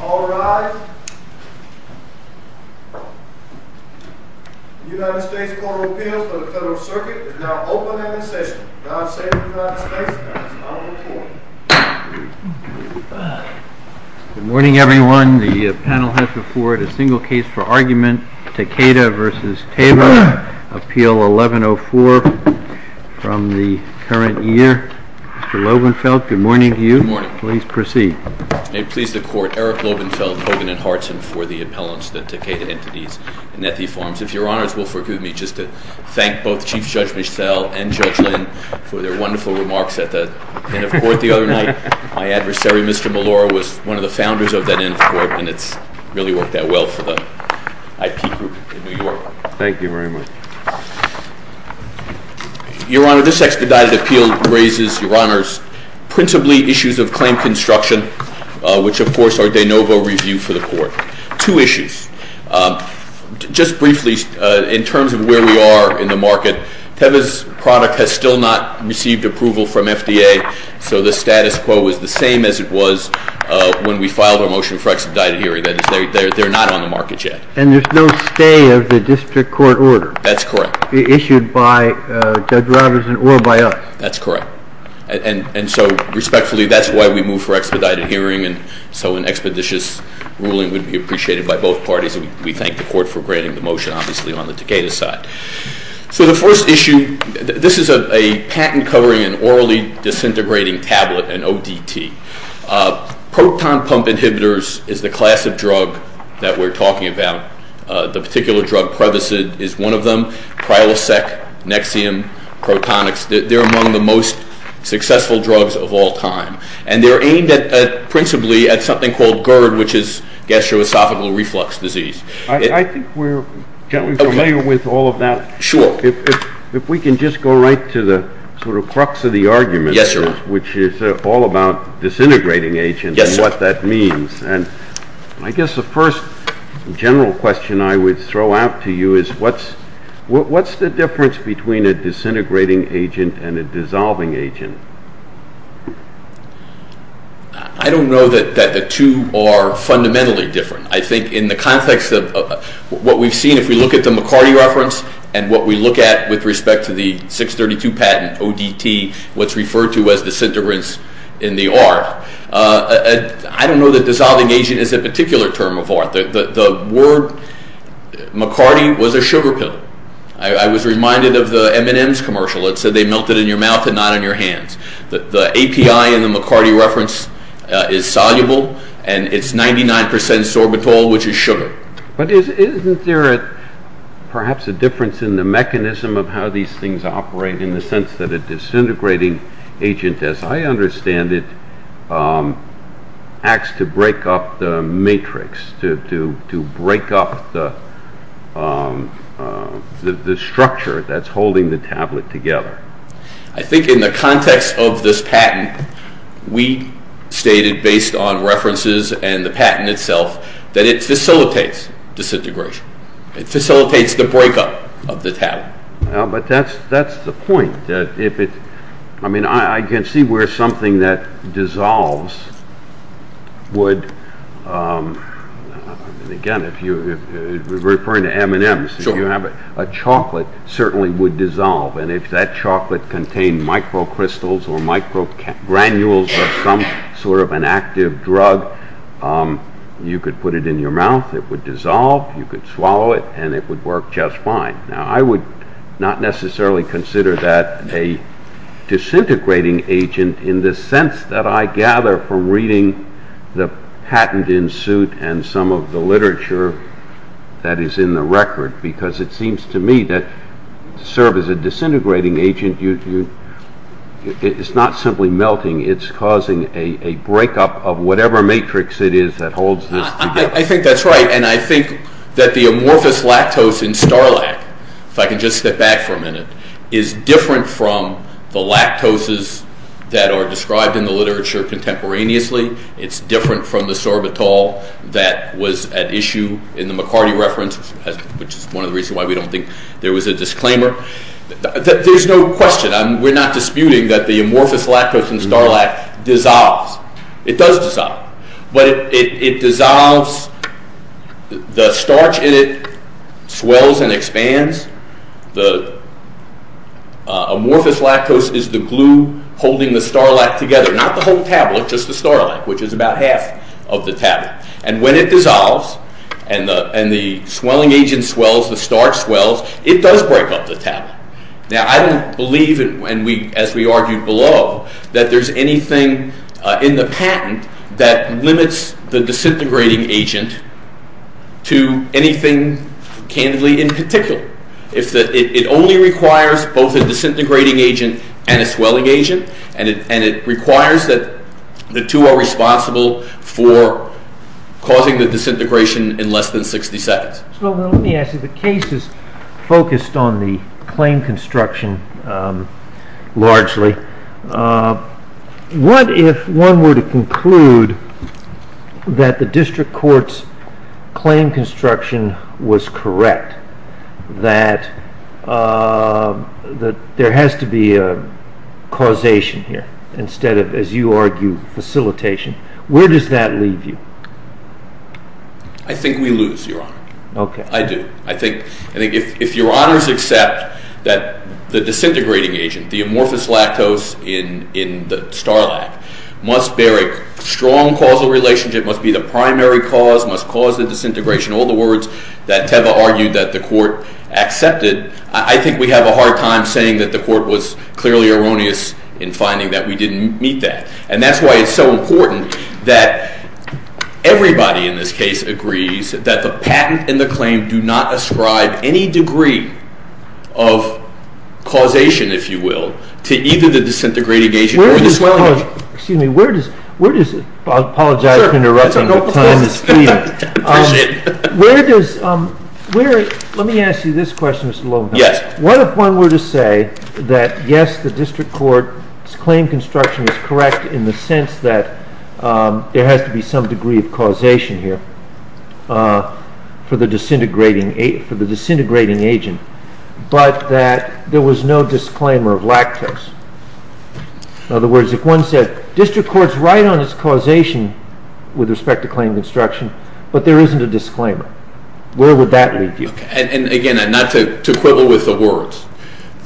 All rise. The United States Court of Appeals for the Federal Circuit is now open and in session. Now I say to the United States Congress, I will report. Good morning, everyone. The panel has before it a single case for argument, Takeda v. Teva, Appeal 1104 from the current year. Mr. Loebenfeld, good morning to you. Good morning. Please proceed. May it please the Court, Eric Loebenfeld, Hogan & Hartson for the appellants, the Takeda entities, and Nethi Farms. If Your Honors will forgive me just to thank both Chief Judge Mischel and Judge Lynn for their wonderful remarks at the end of court the other night. My adversary, Mr. Melora, was one of the founders of that end of court, and it's really worked out well for the IP group in New York. Thank you very much. Your Honor, this expedited appeal raises, Your Honors, principally issues of claim construction, which of course are de novo review for the Court. Two issues. Just briefly, in terms of where we are in the market, Teva's product has still not received approval from FDA, so the status quo is the same as it was when we filed our motion for expedited hearing. That is, they're not on the market yet. And there's no stay of the district court order? That's correct. Issued by Judge Robinson or by us? That's correct. And so respectfully, that's why we move for expedited hearing. And so an expeditious ruling would be appreciated by both parties. We thank the court for granting the motion, obviously, on the Takeda side. So the first issue, this is a patent covering an orally disintegrating tablet, an ODT. Proton pump inhibitors is the class of drug that we're talking about. The particular drug prevacid is one of them. Prilosec, Nexium, Protonix. They're among the most successful drugs of all time. And they're aimed principally at something called GERD, which is gastroesophageal reflux disease. I think we're generally familiar with all of that. Sure. If we can just go right to the sort of crux of the argument. Yes, sir. Which is all about disintegrating agents and what that means. I guess the first general question I would throw out to you is what's the difference between a disintegrating agent and a dissolving agent? I don't know that the two are fundamentally different. I think in the context of what we've seen, if we look at the McCarty reference and what we look at with respect to the 632 patent, ODT, what's referred to as disintegrants in the R, I don't know that dissolving agent is a particular term of art. The word McCarty was a sugar pill. I was reminded of the M&M's commercial. It said they melted in your mouth and not in your hands. The API in the McCarty reference is soluble, and it's 99% sorbitol, which is sugar. But isn't there perhaps a difference in the mechanism of how these things operate in the sense that a disintegrating agent, as I understand it, acts to break up the matrix, to break up the structure that's holding the tablet together? I think in the context of this patent, we stated, based on references and the patent itself, that it facilitates disintegration. It facilitates the breakup of the tablet. That's the point. I can see where something that dissolves would, again, referring to M&M's, if you have a chocolate, certainly would dissolve. If that chocolate contained microcrystals or microgranules of some sort of an active drug, you could put it in your mouth, it would dissolve, you could swallow it, and it would work just fine. Now, I would not necessarily consider that a disintegrating agent in the sense that I gather from reading the patent in suit and some of the literature that is in the record, because it seems to me that to serve as a disintegrating agent, it's not simply melting, it's causing a breakup of whatever matrix it is that holds this together. I think that's right, and I think that the amorphous lactose in Starlac, if I can just step back for a minute, is different from the lactoses that are described in the literature contemporaneously. It's different from the Sorbitol that was at issue in the McCarty reference, which is one of the reasons why we don't think there was a disclaimer. There's no question. We're not disputing that the amorphous lactose in Starlac dissolves. It does dissolve, but it dissolves. The starch in it swells and expands. The amorphous lactose is the glue holding the Starlac together. Not the whole tablet, just the Starlac, which is about half of the tablet. And when it dissolves and the swelling agent swells, the starch swells, it does break up the tablet. Now, I don't believe, as we argued below, that there's anything in the patent that limits the disintegrating agent to anything candidly in particular. It only requires both a disintegrating agent and a swelling agent, and it requires that the two are responsible for causing the disintegration in less than 60 seconds. Well, let me ask you. The case is focused on the claim construction largely. What if one were to conclude that the district court's claim construction was correct, that there has to be a causation here instead of, as you argue, facilitation? Where does that leave you? I think we lose, Your Honor. Okay. I do. I think if Your Honors accept that the disintegrating agent, the amorphous lactose in the Starlac, must bear a strong causal relationship, must be the primary cause, must cause the disintegration, all the words that Teva argued that the court accepted, I think we have a hard time saying that the court was clearly erroneous in finding that we didn't meet that. And that's why it's so important that everybody in this case agrees that the patent and the claim do not ascribe any degree of causation, if you will, to either the disintegrating agent or the swelling agent. Excuse me. I apologize for interrupting your time. I appreciate it. Let me ask you this question, Mr. Lowenthal. Yes. What if one were to say that, yes, the district court's claim construction is correct in the sense that there has to be some degree of causation here for the disintegrating agent, but that there was no disclaimer of lactose? In other words, if one said district court's right on its causation with respect to claim construction, but there isn't a disclaimer, where would that leave you? Again, not to quibble with the words.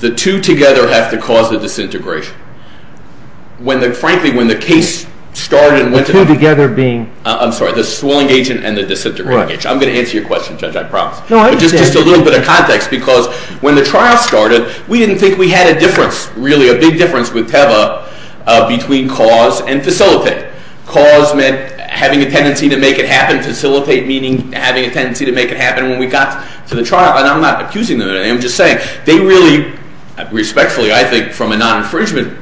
The two together have to cause the disintegration. Frankly, when the case started and went to- The two together being- I'm sorry. The swelling agent and the disintegrating agent. I'm going to answer your question, Judge. I promise. Just a little bit of context, because when the trial started, we didn't think we had a difference, really a big difference, with Teva between cause and facilitate. Cause meant having a tendency to make it happen. Facilitate meaning having a tendency to make it happen. When we got to the trial, and I'm not accusing them of anything, I'm just saying, they really, respectfully, I think, from a non-infringement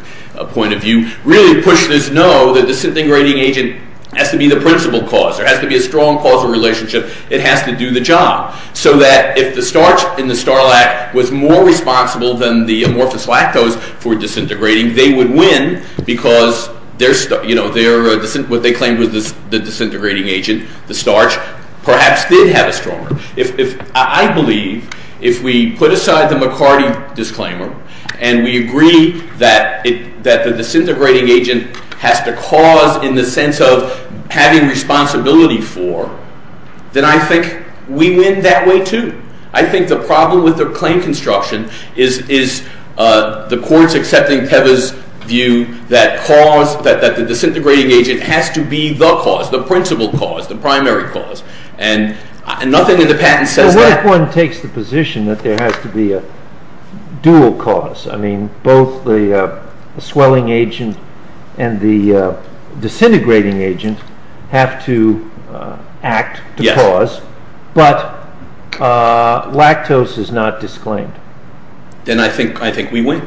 point of view, really pushed us to know that the disintegrating agent has to be the principal cause. There has to be a strong causal relationship. It has to do the job. So that if the starch in the Starlac was more responsible than the amorphous lactose for disintegrating, they would win, because what they claimed was the disintegrating agent, the starch, perhaps did have a stronger- I believe if we put aside the McCarty disclaimer, and we agree that the disintegrating agent has to cause in the sense of having responsibility for, then I think we win that way too. I think the problem with the claim construction is the courts accepting Teva's view that cause, that the disintegrating agent has to be the cause, the principal cause, the primary cause. And nothing in the patent says that. Well, what if one takes the position that there has to be a dual cause? I mean, both the swelling agent and the disintegrating agent have to act to cause. But lactose is not disclaimed. Then I think we win.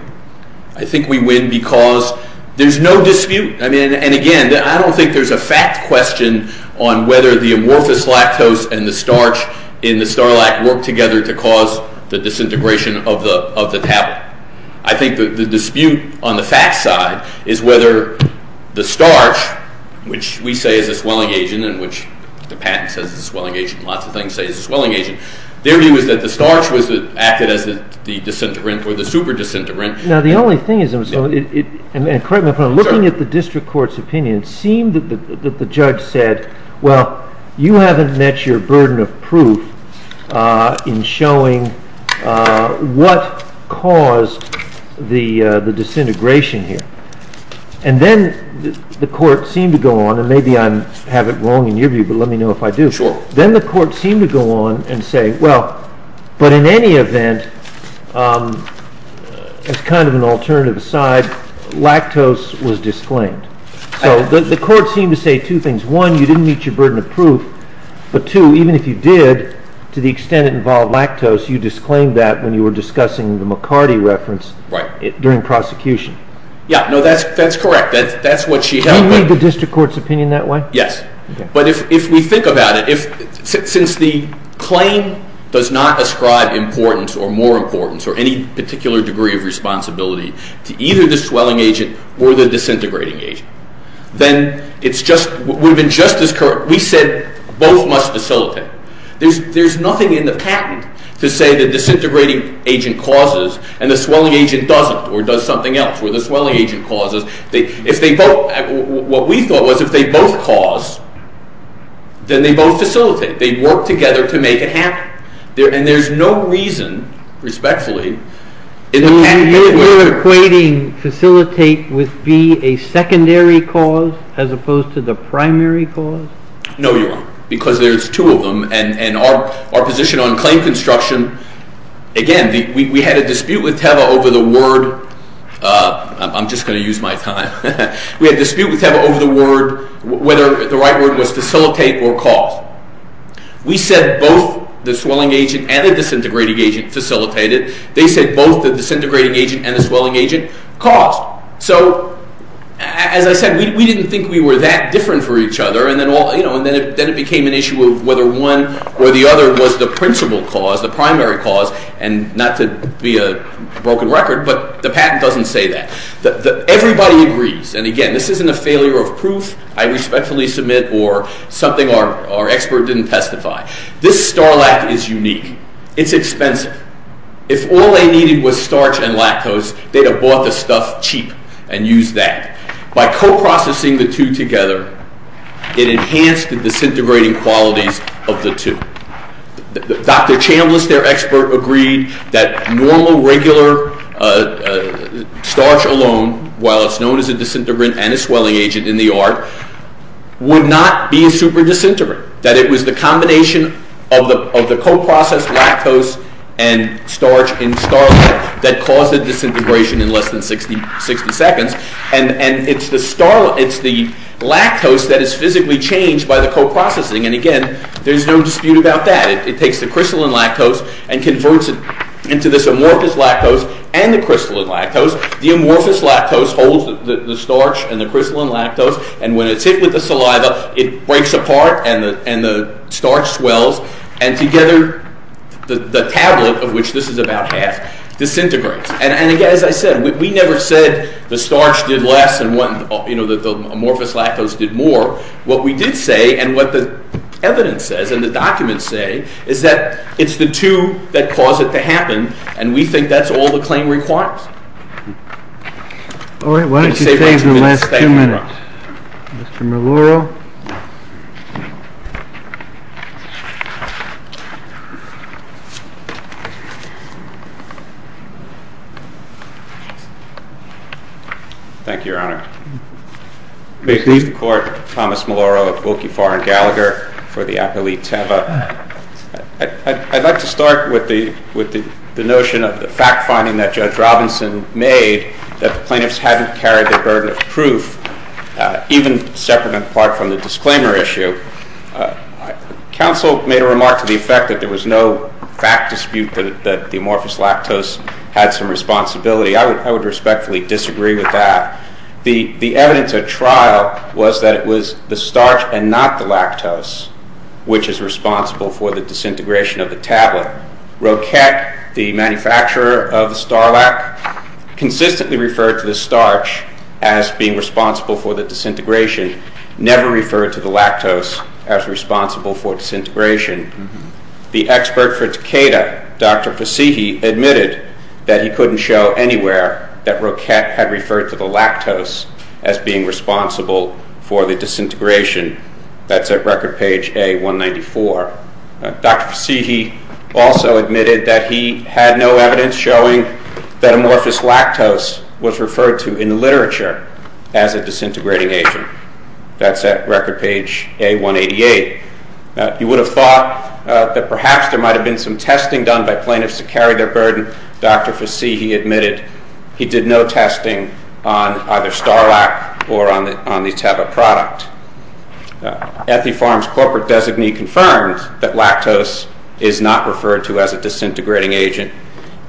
I think we win because there's no dispute. And again, I don't think there's a fact question on whether the amorphous lactose and the starch in the Starlac work together to cause the disintegration of the tablet. I think the dispute on the fact side is whether the starch, which we say is a swelling agent and which the patent says is a swelling agent and lots of things say is a swelling agent, their view is that the starch acted as the disintegrant or the super disintegrant. Now, the only thing is, and correct me if I'm wrong, looking at the district court's opinion, it seemed that the judge said, well, you haven't met your burden of proof in showing what caused the disintegration here. And then the court seemed to go on, and maybe I have it wrong in your view, but let me know if I do. Then the court seemed to go on and say, well, but in any event, as kind of an alternative aside, lactose was disclaimed. So the court seemed to say two things. One, you didn't meet your burden of proof. But two, even if you did, to the extent it involved lactose, you disclaimed that when you were discussing the McCarty reference during prosecution. Yeah. No, that's correct. That's what she held. Do you read the district court's opinion that way? Yes. But if we think about it, since the claim does not ascribe importance or more importance or any particular degree of responsibility to either the swelling agent or the disintegrating agent, then it would have been just as correct. We said both must facilitate. There's nothing in the patent to say the disintegrating agent causes and the swelling agent doesn't or does something else where the swelling agent causes. What we thought was if they both cause, then they both facilitate. They work together to make it happen. And there's no reason, respectfully, in the patent anyway. So you're equating facilitate with be a secondary cause as opposed to the primary cause? No, you're wrong, because there's two of them. And our position on claim construction, again, we had a dispute with TEVA over the word. I'm just going to use my time. We had a dispute with TEVA over the word, whether the right word was facilitate or cause. We said both the swelling agent and the disintegrating agent facilitated. They said both the disintegrating agent and the swelling agent caused. So as I said, we didn't think we were that different for each other. And then it became an issue of whether one or the other was the principal cause, the primary cause, and not to be a broken record, but the patent doesn't say that. Everybody agrees, and again, this isn't a failure of proof I respectfully submit or something our expert didn't testify. This Starlac is unique. It's expensive. If all they needed was starch and lactose, they'd have bought the stuff cheap and used that. By coprocessing the two together, it enhanced the disintegrating qualities of the two. Dr. Chambliss, their expert, agreed that normal, regular starch alone, while it's known as a disintegrant and a swelling agent in the art, would not be a superdisintegrant, that it was the combination of the coprocessed lactose and starch in Starlac and it's the lactose that is physically changed by the coprocessing, and again, there's no dispute about that. It takes the crystalline lactose and converts it into this amorphous lactose and the crystalline lactose. The amorphous lactose holds the starch and the crystalline lactose, and when it's hit with the saliva, it breaks apart and the starch swells, and together the tablet, of which this is about half, disintegrates. And again, as I said, we never said the starch did less and the amorphous lactose did more. What we did say, and what the evidence says and the documents say, is that it's the two that cause it to happen, and we think that's all the claim requires. All right, why don't you take the last two minutes. Mr. Maloro. Thank you, Your Honor. May it please the Court, Thomas Maloro of Wilkie, Farr, and Gallagher, for the appellee Teva. I'd like to start with the notion of the fact finding that Judge Robinson made that the plaintiffs hadn't carried their burden of proof, even separate and apart from the disclaimer issue. Counsel made a remark to the effect that there was no fact dispute that the amorphous lactose had some responsibility. I would respectfully disagree with that. The evidence at trial was that it was the starch and not the lactose which is responsible for the disintegration of the tablet. Roquet, the manufacturer of the Starlac, consistently referred to the starch as being responsible for the disintegration, never referred to the lactose as responsible for disintegration. The expert for Takeda, Dr. Fasighi, admitted that he couldn't show anywhere that Roquet had referred to the lactose as being responsible for the disintegration. That's at record page A194. Dr. Fasighi also admitted that he had no evidence showing that amorphous lactose was referred to in the literature as a disintegrating agent. That's at record page A188. You would have thought that perhaps there might have been some testing done by plaintiffs to carry their burden. Dr. Fasighi admitted he did no testing on either Starlac or on the Teva product. Ethifarm's corporate designee confirmed that lactose is not referred to as a disintegrating agent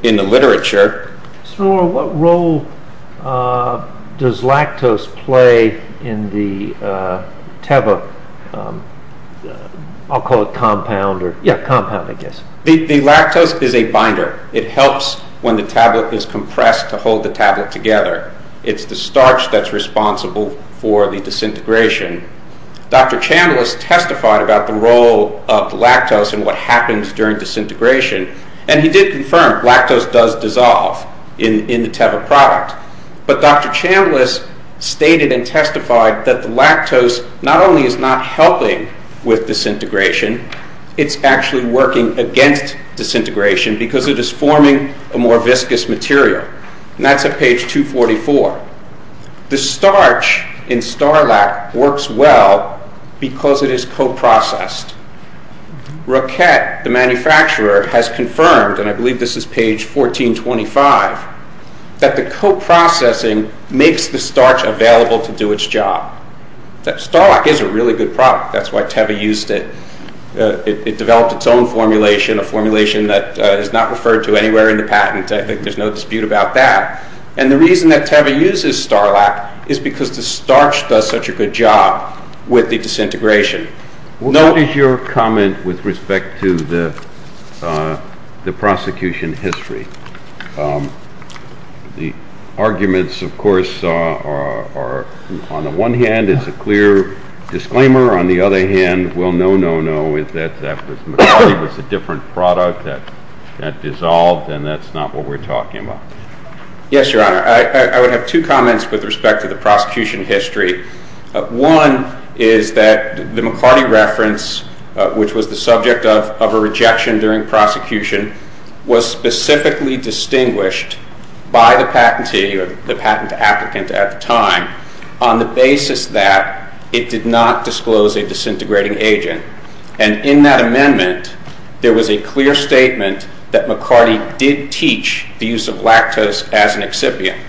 in the literature. What role does lactose play in the Teva compound? The lactose is a binder. It helps when the tablet is compressed to hold the tablet together. It's the starch that's responsible for the disintegration. Dr. Chandler has testified about the role of lactose and what happens during disintegration. He did confirm lactose does dissolve in the Teva product. But Dr. Chandler stated and testified that the lactose not only is not helping with disintegration, it's actually working against disintegration because it is forming a more viscous material. That's at page 244. The starch in Starlac works well because it is co-processed. Roquette, the manufacturer, has confirmed, and I believe this is page 1425, that the co-processing makes the starch available to do its job. Starlac is a really good product. That's why Teva used it. It developed its own formulation, a formulation that is not referred to anywhere in the patent. I think there's no dispute about that. And the reason that Teva uses Starlac is because the starch does such a good job with the disintegration. What is your comment with respect to the prosecution history? The arguments, of course, are on the one hand, it's a clear disclaimer. On the other hand, well, no, no, no. It's that McCarty was a different product that dissolved, and that's not what we're talking about. Yes, Your Honor. I would have two comments with respect to the prosecution history. One is that the McCarty reference, which was the subject of a rejection during prosecution, was specifically distinguished by the patentee or the patent applicant at the time on the basis that it did not disclose a disintegrating agent. And in that amendment, there was a clear statement that McCarty did teach the use of lactose as an excipient.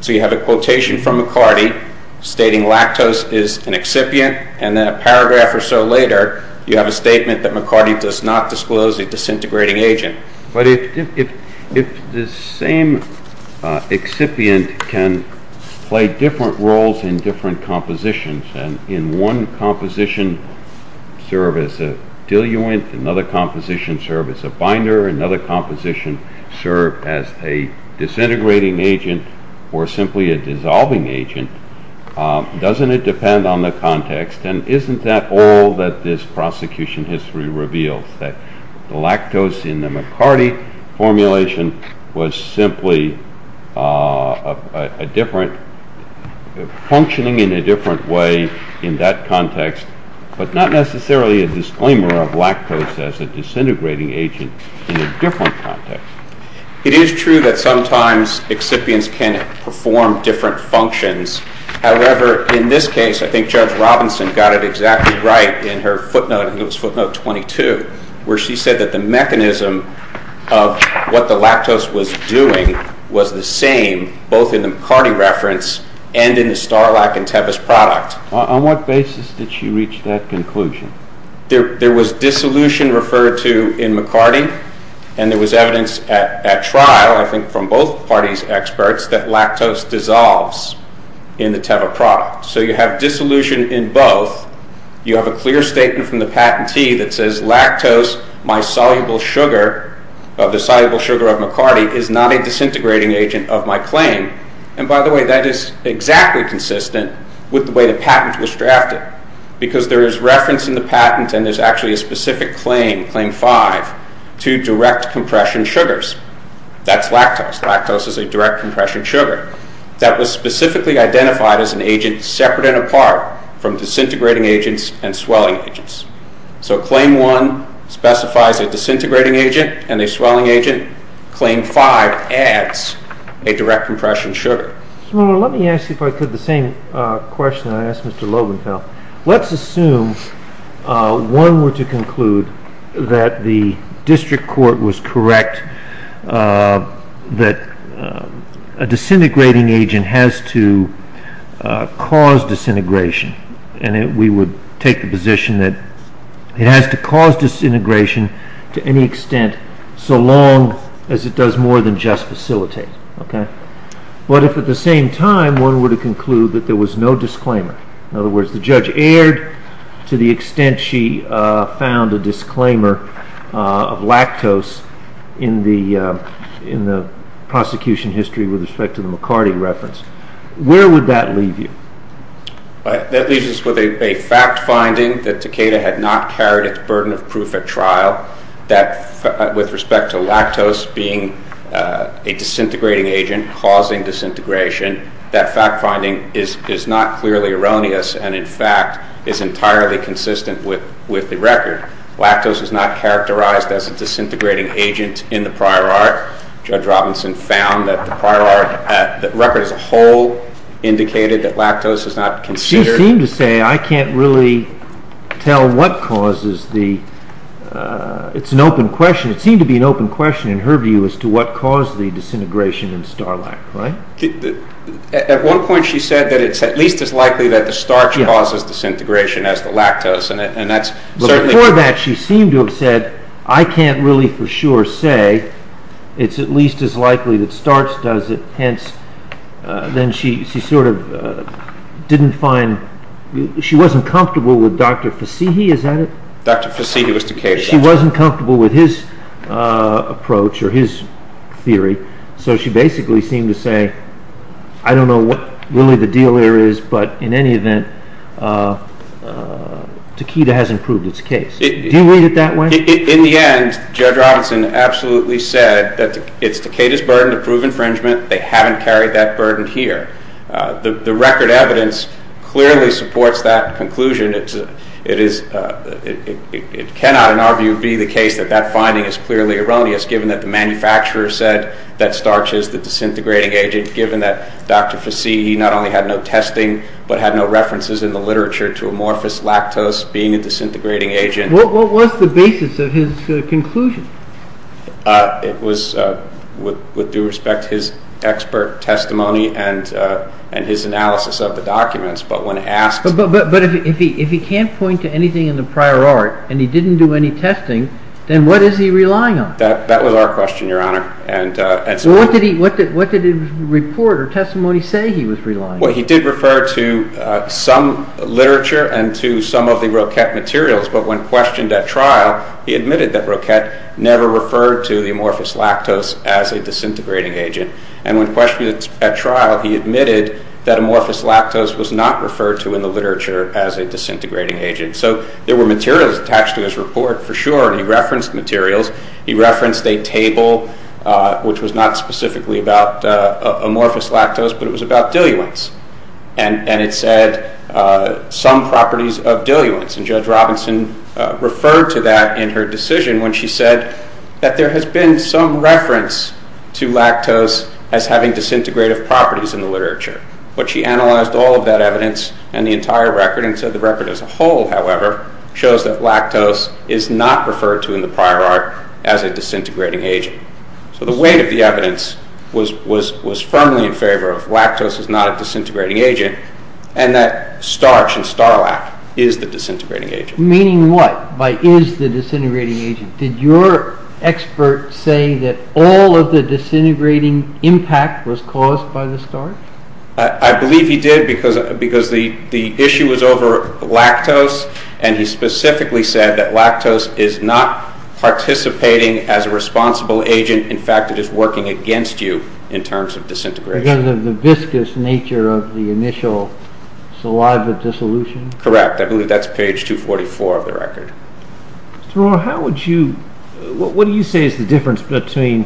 So you have a quotation from McCarty stating lactose is an excipient, and then a paragraph or so later, you have a statement that McCarty does not disclose a disintegrating agent. But if the same excipient can play different roles in different compositions, and in one composition serve as a diluent, another composition serve as a binder, another composition serve as a disintegrating agent or simply a dissolving agent, doesn't it depend on the context, and isn't that all that this prosecution history reveals, that the lactose in the McCarty formulation was simply functioning in a different way in that context, but not necessarily a disclaimer of lactose as a disintegrating agent in a different context? It is true that sometimes excipients can perform different functions. However, in this case, I think Judge Robinson got it exactly right in her footnote, I think it was footnote 22, where she said that the mechanism of what the lactose was doing was the same, both in the McCarty reference and in the Starlack and Tevis product. On what basis did she reach that conclusion? There was dissolution referred to in McCarty, and there was evidence at trial, I think from both parties' experts, that lactose dissolves in the Tevis product. So you have dissolution in both, you have a clear statement from the patentee that says lactose, my soluble sugar, the soluble sugar of McCarty is not a disintegrating agent of my claim, and by the way, that is exactly consistent with the way the patent was drafted, because there is reference in the patent and there is actually a specific claim, Claim 5, to direct compression sugars. That's lactose. Lactose is a direct compression sugar that was specifically identified as an agent separate and apart from disintegrating agents and swelling agents. So Claim 1 specifies a disintegrating agent and a swelling agent. Claim 5 adds a direct compression sugar. Well, let me ask you, if I could, the same question I asked Mr. Loebenthal. Let's assume one were to conclude that the district court was correct, that a disintegrating agent has to cause disintegration, and we would take the position that it has to cause disintegration to any extent so long as it does more than just facilitate. But if at the same time one were to conclude that there was no disclaimer, in other words, the judge erred to the extent she found a disclaimer of lactose in the prosecution history with respect to the McCarty reference, where would that leave you? That leaves us with a fact finding that Takeda had not carried its burden of proof at trial, that with respect to lactose being a disintegrating agent causing disintegration, that fact finding is not clearly erroneous and, in fact, is entirely consistent with the record. Lactose is not characterized as a disintegrating agent in the prior art. Judge Robinson found that the record as a whole indicated that lactose is not considered. She seemed to say I can't really tell what causes the – it's an open question. It seemed to be an open question in her view as to what caused the disintegration in Starlack, right? At one point she said that it's at least as likely that the starch causes disintegration as the lactose, but before that she seemed to have said I can't really for sure say it's at least as likely that starch does it, hence then she sort of didn't find – she wasn't comfortable with Dr. Fassihi, is that it? Dr. Fassihi was Takeda's. She wasn't comfortable with his approach or his theory, so she basically seemed to say I don't know what really the deal there is, but in any event, Takeda hasn't proved its case. Do you read it that way? In the end, Judge Robinson absolutely said that it's Takeda's burden to prove infringement. They haven't carried that burden here. The record evidence clearly supports that conclusion. It is – it cannot, in our view, be the case that that finding is clearly erroneous given that the manufacturer said that starch is the disintegrating agent, given that Dr. Fassihi not only had no testing but had no references in the literature to amorphous lactose being a disintegrating agent. What was the basis of his conclusion? It was, with due respect, his expert testimony and his analysis of the documents, but when asked – But if he can't point to anything in the prior art and he didn't do any testing, then what is he relying on? That was our question, Your Honor. What did his report or testimony say he was relying on? He did refer to some literature and to some of the Roquette materials, but when questioned at trial, he admitted that Roquette never referred to the amorphous lactose as a disintegrating agent. And when questioned at trial, he admitted that amorphous lactose was not referred to in the literature as a disintegrating agent. So there were materials attached to his report, for sure, and he referenced materials. He referenced a table, which was not specifically about amorphous lactose, but it was about diluents. And it said some properties of diluents, and Judge Robinson referred to that in her decision when she said that there has been some reference to lactose as having disintegrative properties in the literature. But she analyzed all of that evidence and the entire record, and so the record as a whole, however, shows that lactose is not referred to in the prior art as a disintegrating agent. So the weight of the evidence was firmly in favor of lactose as not a disintegrating agent and that starch and Starlact is the disintegrating agent. Meaning what by is the disintegrating agent? Did your expert say that all of the disintegrating impact was caused by the starch? I believe he did because the issue was over lactose, and he specifically said that lactose is not participating as a responsible agent. In fact, it is working against you in terms of disintegration. Because of the viscous nature of the initial saliva dissolution? Correct. I believe that's page 244 of the record. Mr. Rohr, what do you say is the difference between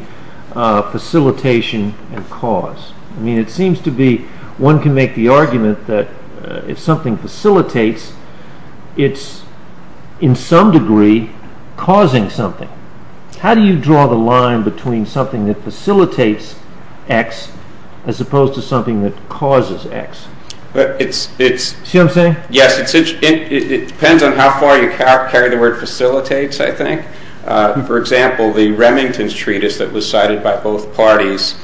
facilitation and cause? I mean it seems to be one can make the argument that if something facilitates, it's in some degree causing something. How do you draw the line between something that facilitates X as opposed to something that causes X? It depends on how far you carry the word facilitates, I think. For example, the Remington's treatise that was cited by both parties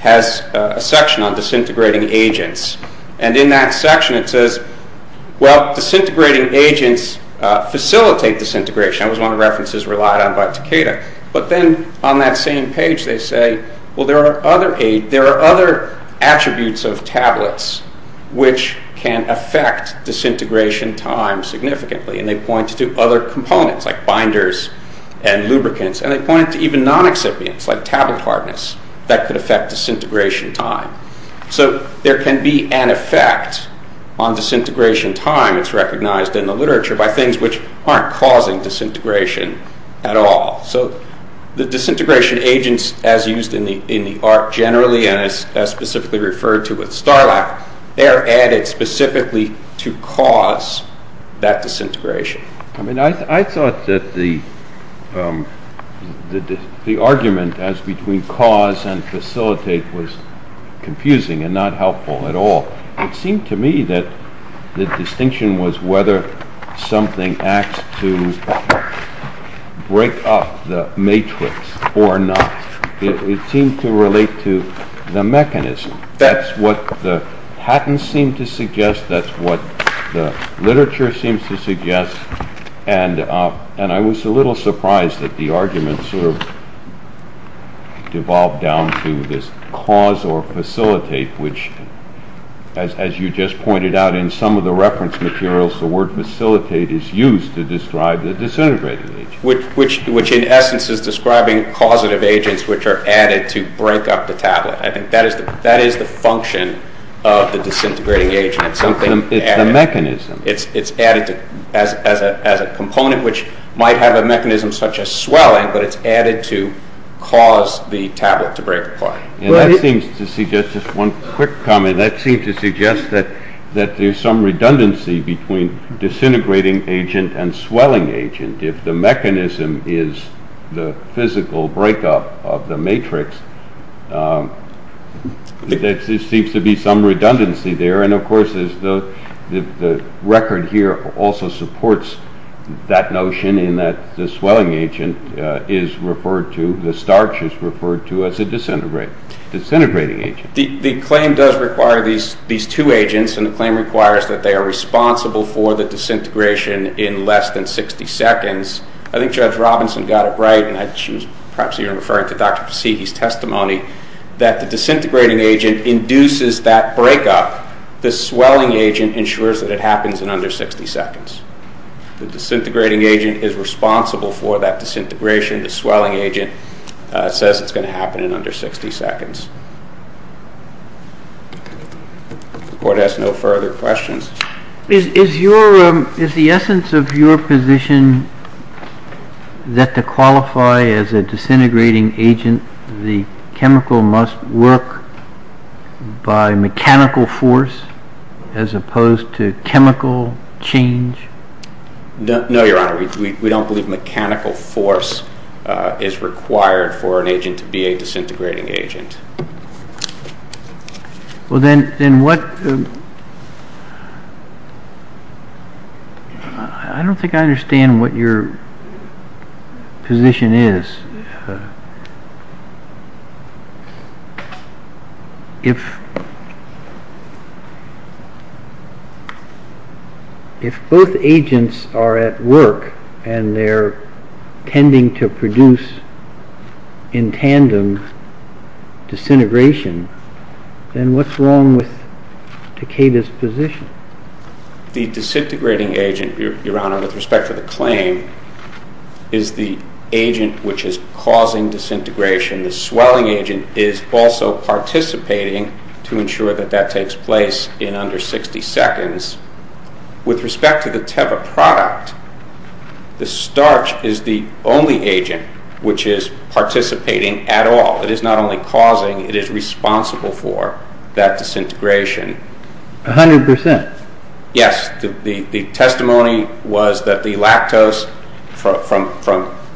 has a section on disintegrating agents. And in that section it says, well, disintegrating agents facilitate disintegration. That was one of the references relied on by Takeda. But then on that same page they say, well, there are other attributes of tablets which can affect disintegration time significantly. And they point to other components like binders and lubricants. And they point to even non-excipients like tablet hardness that could affect disintegration time. So there can be an effect on disintegration time, it's recognized in the literature, by things which aren't causing disintegration at all. So the disintegration agents as used in the art generally and as specifically referred to with Starlack, they're added specifically to cause that disintegration. I mean, I thought that the argument as between cause and facilitate was confusing and not helpful at all. It seemed to me that the distinction was whether something acts to break up the matrix or not. It seemed to relate to the mechanism. That's what the patents seem to suggest. That's what the literature seems to suggest. And I was a little surprised that the argument sort of devolved down to this cause or facilitate, which as you just pointed out in some of the reference materials, the word facilitate is used to describe the disintegrating agent. Which in essence is describing causative agents which are added to break up the tablet. I think that is the function of the disintegrating agent. It's the mechanism. It's added as a component which might have a mechanism such as swelling, but it's added to cause the tablet to break apart. And that seems to suggest, just one quick comment, that seems to suggest that there's some redundancy between disintegrating agent and swelling agent. If the mechanism is the physical breakup of the matrix, there seems to be some redundancy there. And of course the record here also supports that notion in that the swelling agent is referred to, the starch is referred to as a disintegrating agent. The claim does require these two agents, and the claim requires that they are responsible for the disintegration in less than 60 seconds. I think Judge Robinson got it right, and perhaps you're referring to Dr. Pesicki's testimony, that the disintegrating agent induces that breakup. The swelling agent ensures that it happens in under 60 seconds. The disintegrating agent is responsible for that disintegration. The swelling agent says it's going to happen in under 60 seconds. The court has no further questions. Is the essence of your position that to qualify as a disintegrating agent, the chemical must work by mechanical force as opposed to chemical change? No, Your Honor. We don't believe mechanical force is required for an agent to be a disintegrating agent. I don't think I understand what your position is. If both agents are at work and they're tending to produce in tandem disintegration, then what's wrong with Decada's position? The disintegrating agent, Your Honor, with respect to the claim, is the agent which is causing disintegration. The swelling agent is also participating to ensure that that takes place in under 60 seconds. With respect to the Teva product, the starch is the only agent which is participating at all. It is not only causing, it is responsible for that disintegration. A hundred percent? Yes. The testimony was that the lactose, from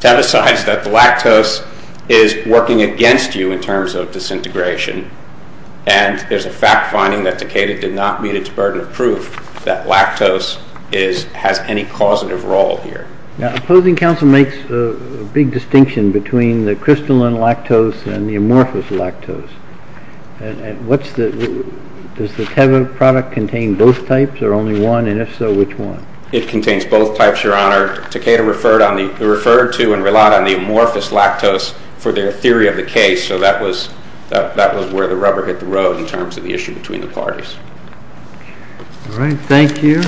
Teva's side, that the lactose is working against you in terms of disintegration. And there's a fact finding that Decada did not meet its burden of proof that lactose has any causative role here. Now, opposing counsel makes a big distinction between the crystalline lactose and the amorphous lactose. Does the Teva product contain both types, or only one? And if so, which one? It contains both types, Your Honor. Decada referred to and relied on the amorphous lactose for their theory of the case. So that was where the rubber hit the road in terms of the issue between the parties. All right. Thank you.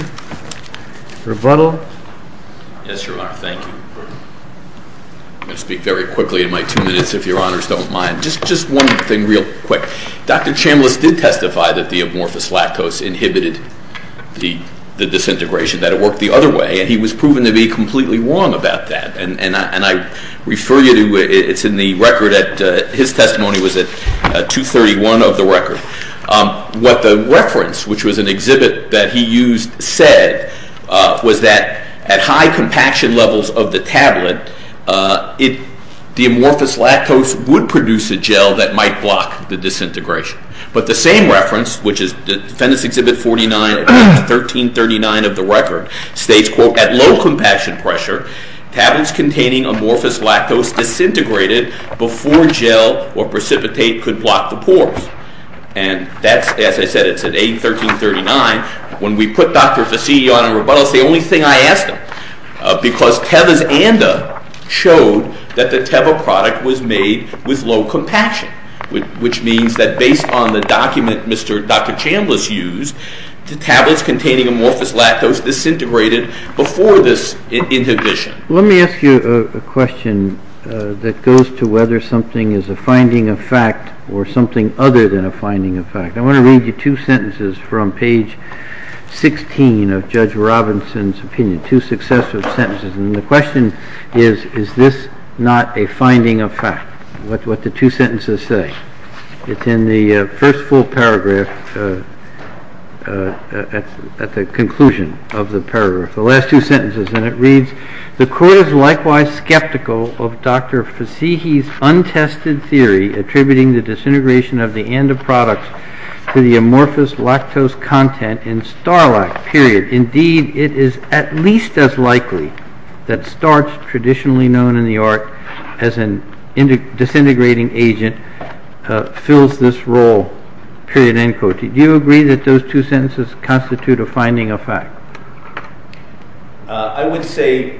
Rebuttal? Yes, Your Honor. Thank you. I'm going to speak very quickly in my two minutes, if Your Honors don't mind. Just one thing real quick. Dr. Chambliss did testify that the amorphous lactose inhibited the disintegration, that it worked the other way, and he was proven to be completely wrong about that. And I refer you to it. It's in the record. His testimony was at 231 of the record. What the reference, which was an exhibit that he used, said was that at high compaction levels of the tablet, the amorphous lactose would produce a gel that might block the disintegration. But the same reference, which is Fenton's Exhibit 49, 1339 of the record, states, quote, at low compaction pressure, tablets containing amorphous lactose disintegrated before gel or precipitate could block the pores. And that's, as I said, it's at A1339. When we put Dr. Fasidi on a rebuttal, it's the only thing I asked him, because Tevas Anda showed that the Teva product was made with low compaction, which means that based on the document Dr. Chambliss used, tablets containing amorphous lactose disintegrated before this inhibition. Let me ask you a question that goes to whether something is a finding of fact or something other than a finding of fact. I want to read you two sentences from page 16 of Judge Robinson's opinion, two successive sentences. And the question is, is this not a finding of fact, what the two sentences say? It's in the first full paragraph at the conclusion of the paragraph, the last two sentences. And it reads, the court is likewise skeptical of Dr. Fasidi's untested theory attributing the disintegration of the Anda product to the amorphous lactose content in Starlac, period. Indeed, it is at least as likely that starch, traditionally known in the art as a disintegrating agent, fills this role, period, end quote. Do you agree that those two sentences constitute a finding of fact? I would say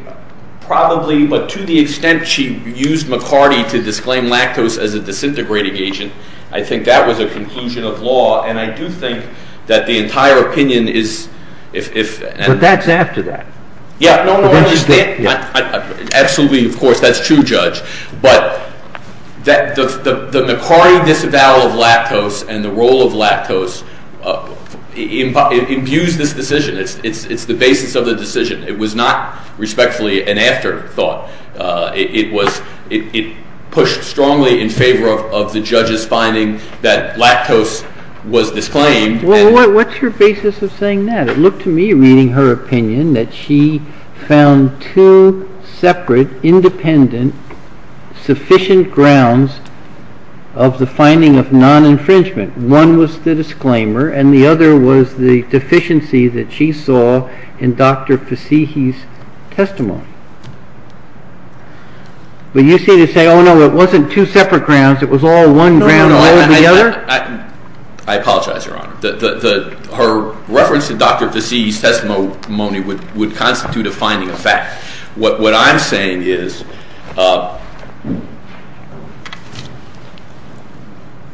probably, but to the extent she used McCarty to disclaim lactose as a disintegrating agent, I think that was a conclusion of law, and I do think that the entire opinion is... But that's after that. Yeah, no, no, I understand. Absolutely, of course, that's true, Judge. But the McCarty disavowal of lactose and the role of lactose imbues this decision. It's the basis of the decision. It was not respectfully an afterthought. It pushed strongly in favor of the judge's finding that lactose was disclaimed. Well, what's your basis of saying that? It looked to me, reading her opinion, that she found two separate, independent, sufficient grounds of the finding of non-infringement. One was the disclaimer, and the other was the deficiency that she saw in Dr. Fassihi's testimony. But you seem to say, oh, no, it wasn't two separate grounds, it was all one ground altogether? I apologize, Your Honor. Her reference to Dr. Fassihi's testimony would constitute a finding of fact. What I'm saying is,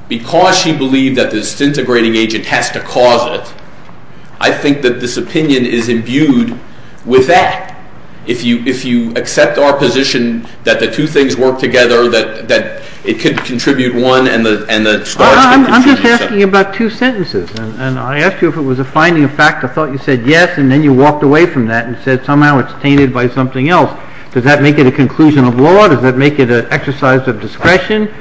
because she believed that the disintegrating agent has to cause it, I think that this opinion is imbued with that. If you accept our position that the two things work together, that it could contribute one and the starch could contribute the other. I'm just asking about two sentences. And I asked you if it was a finding of fact. I thought you said yes, and then you walked away from that and said somehow it's tainted by something else. Does that make it a conclusion of law? Does that make it an exercise of discretion?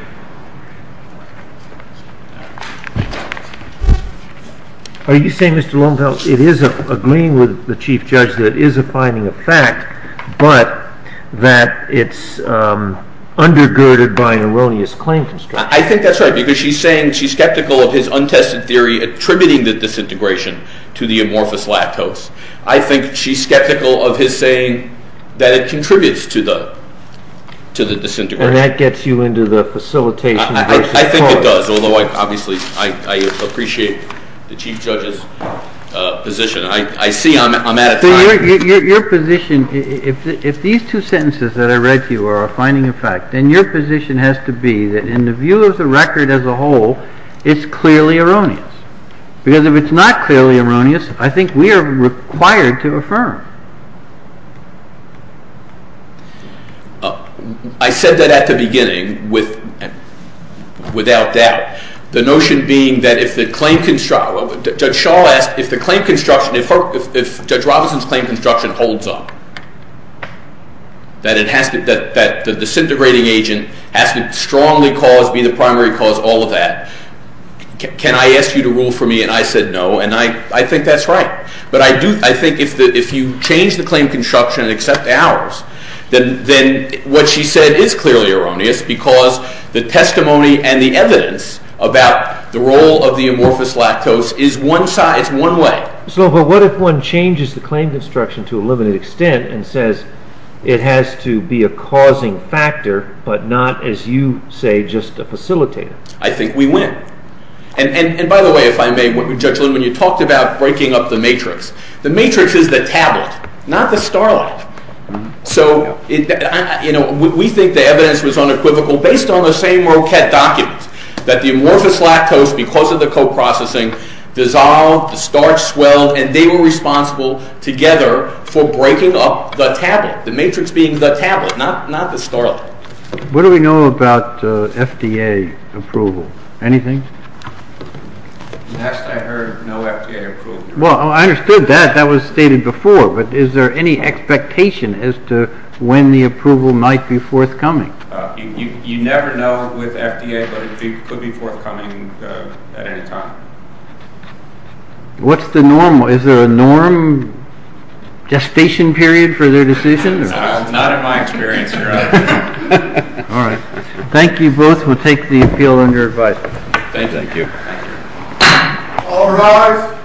Are you saying, Mr. Lomfeld, it is agreeing with the Chief Judge that it is a finding of fact, but that it's undergirded by an erroneous claim construct? I think that's right, because she's saying she's skeptical of his untested theory attributing the disintegration to the amorphous lactose. I think she's skeptical of his saying that it contributes to the disintegration. And that gets you into the facilitation. I think it does, although obviously I appreciate the Chief Judge's position. I see I'm out of time. Your position, if these two sentences that I read to you are a finding of fact, then your position has to be that in the view of the record as a whole, it's clearly erroneous. Because if it's not clearly erroneous, I think we are required to affirm. I said that at the beginning without doubt. The notion being that if the claim constructs, Judge Shaw asked if the claim construction, if Judge Robinson's claim construction holds up, that the disintegrating agent has to strongly cause, be the primary cause, all of that, can I ask you to rule for me? And I said no. And I think that's right. But I think if you change the claim construction and accept ours, then what she said is clearly erroneous because the testimony and the evidence about the role of the amorphous lactose is one way. But what if one changes the claim construction to a limited extent and says it has to be a causing factor but not, as you say, just a facilitator? I think we win. And by the way, if I may, Judge Lynn, when you talked about breaking up the matrix, the matrix is the tablet, not the starlight. So we think the evidence was unequivocal based on the same ROCET document that the amorphous lactose, because of the coprocessing, dissolved, the starch swelled, and they were responsible together for breaking up the tablet, the matrix being the tablet, not the starlight. What do we know about FDA approval? Anything? Last I heard, no FDA approval. Well, I understood that. That was stated before. But is there any expectation as to when the approval might be forthcoming? You never know with FDA, but it could be forthcoming at any time. What's the norm? Is there a norm gestation period for their decision? Not in my experience, no. All right. Thank you both. We'll take the appeal on your advice. Thank you. All rise.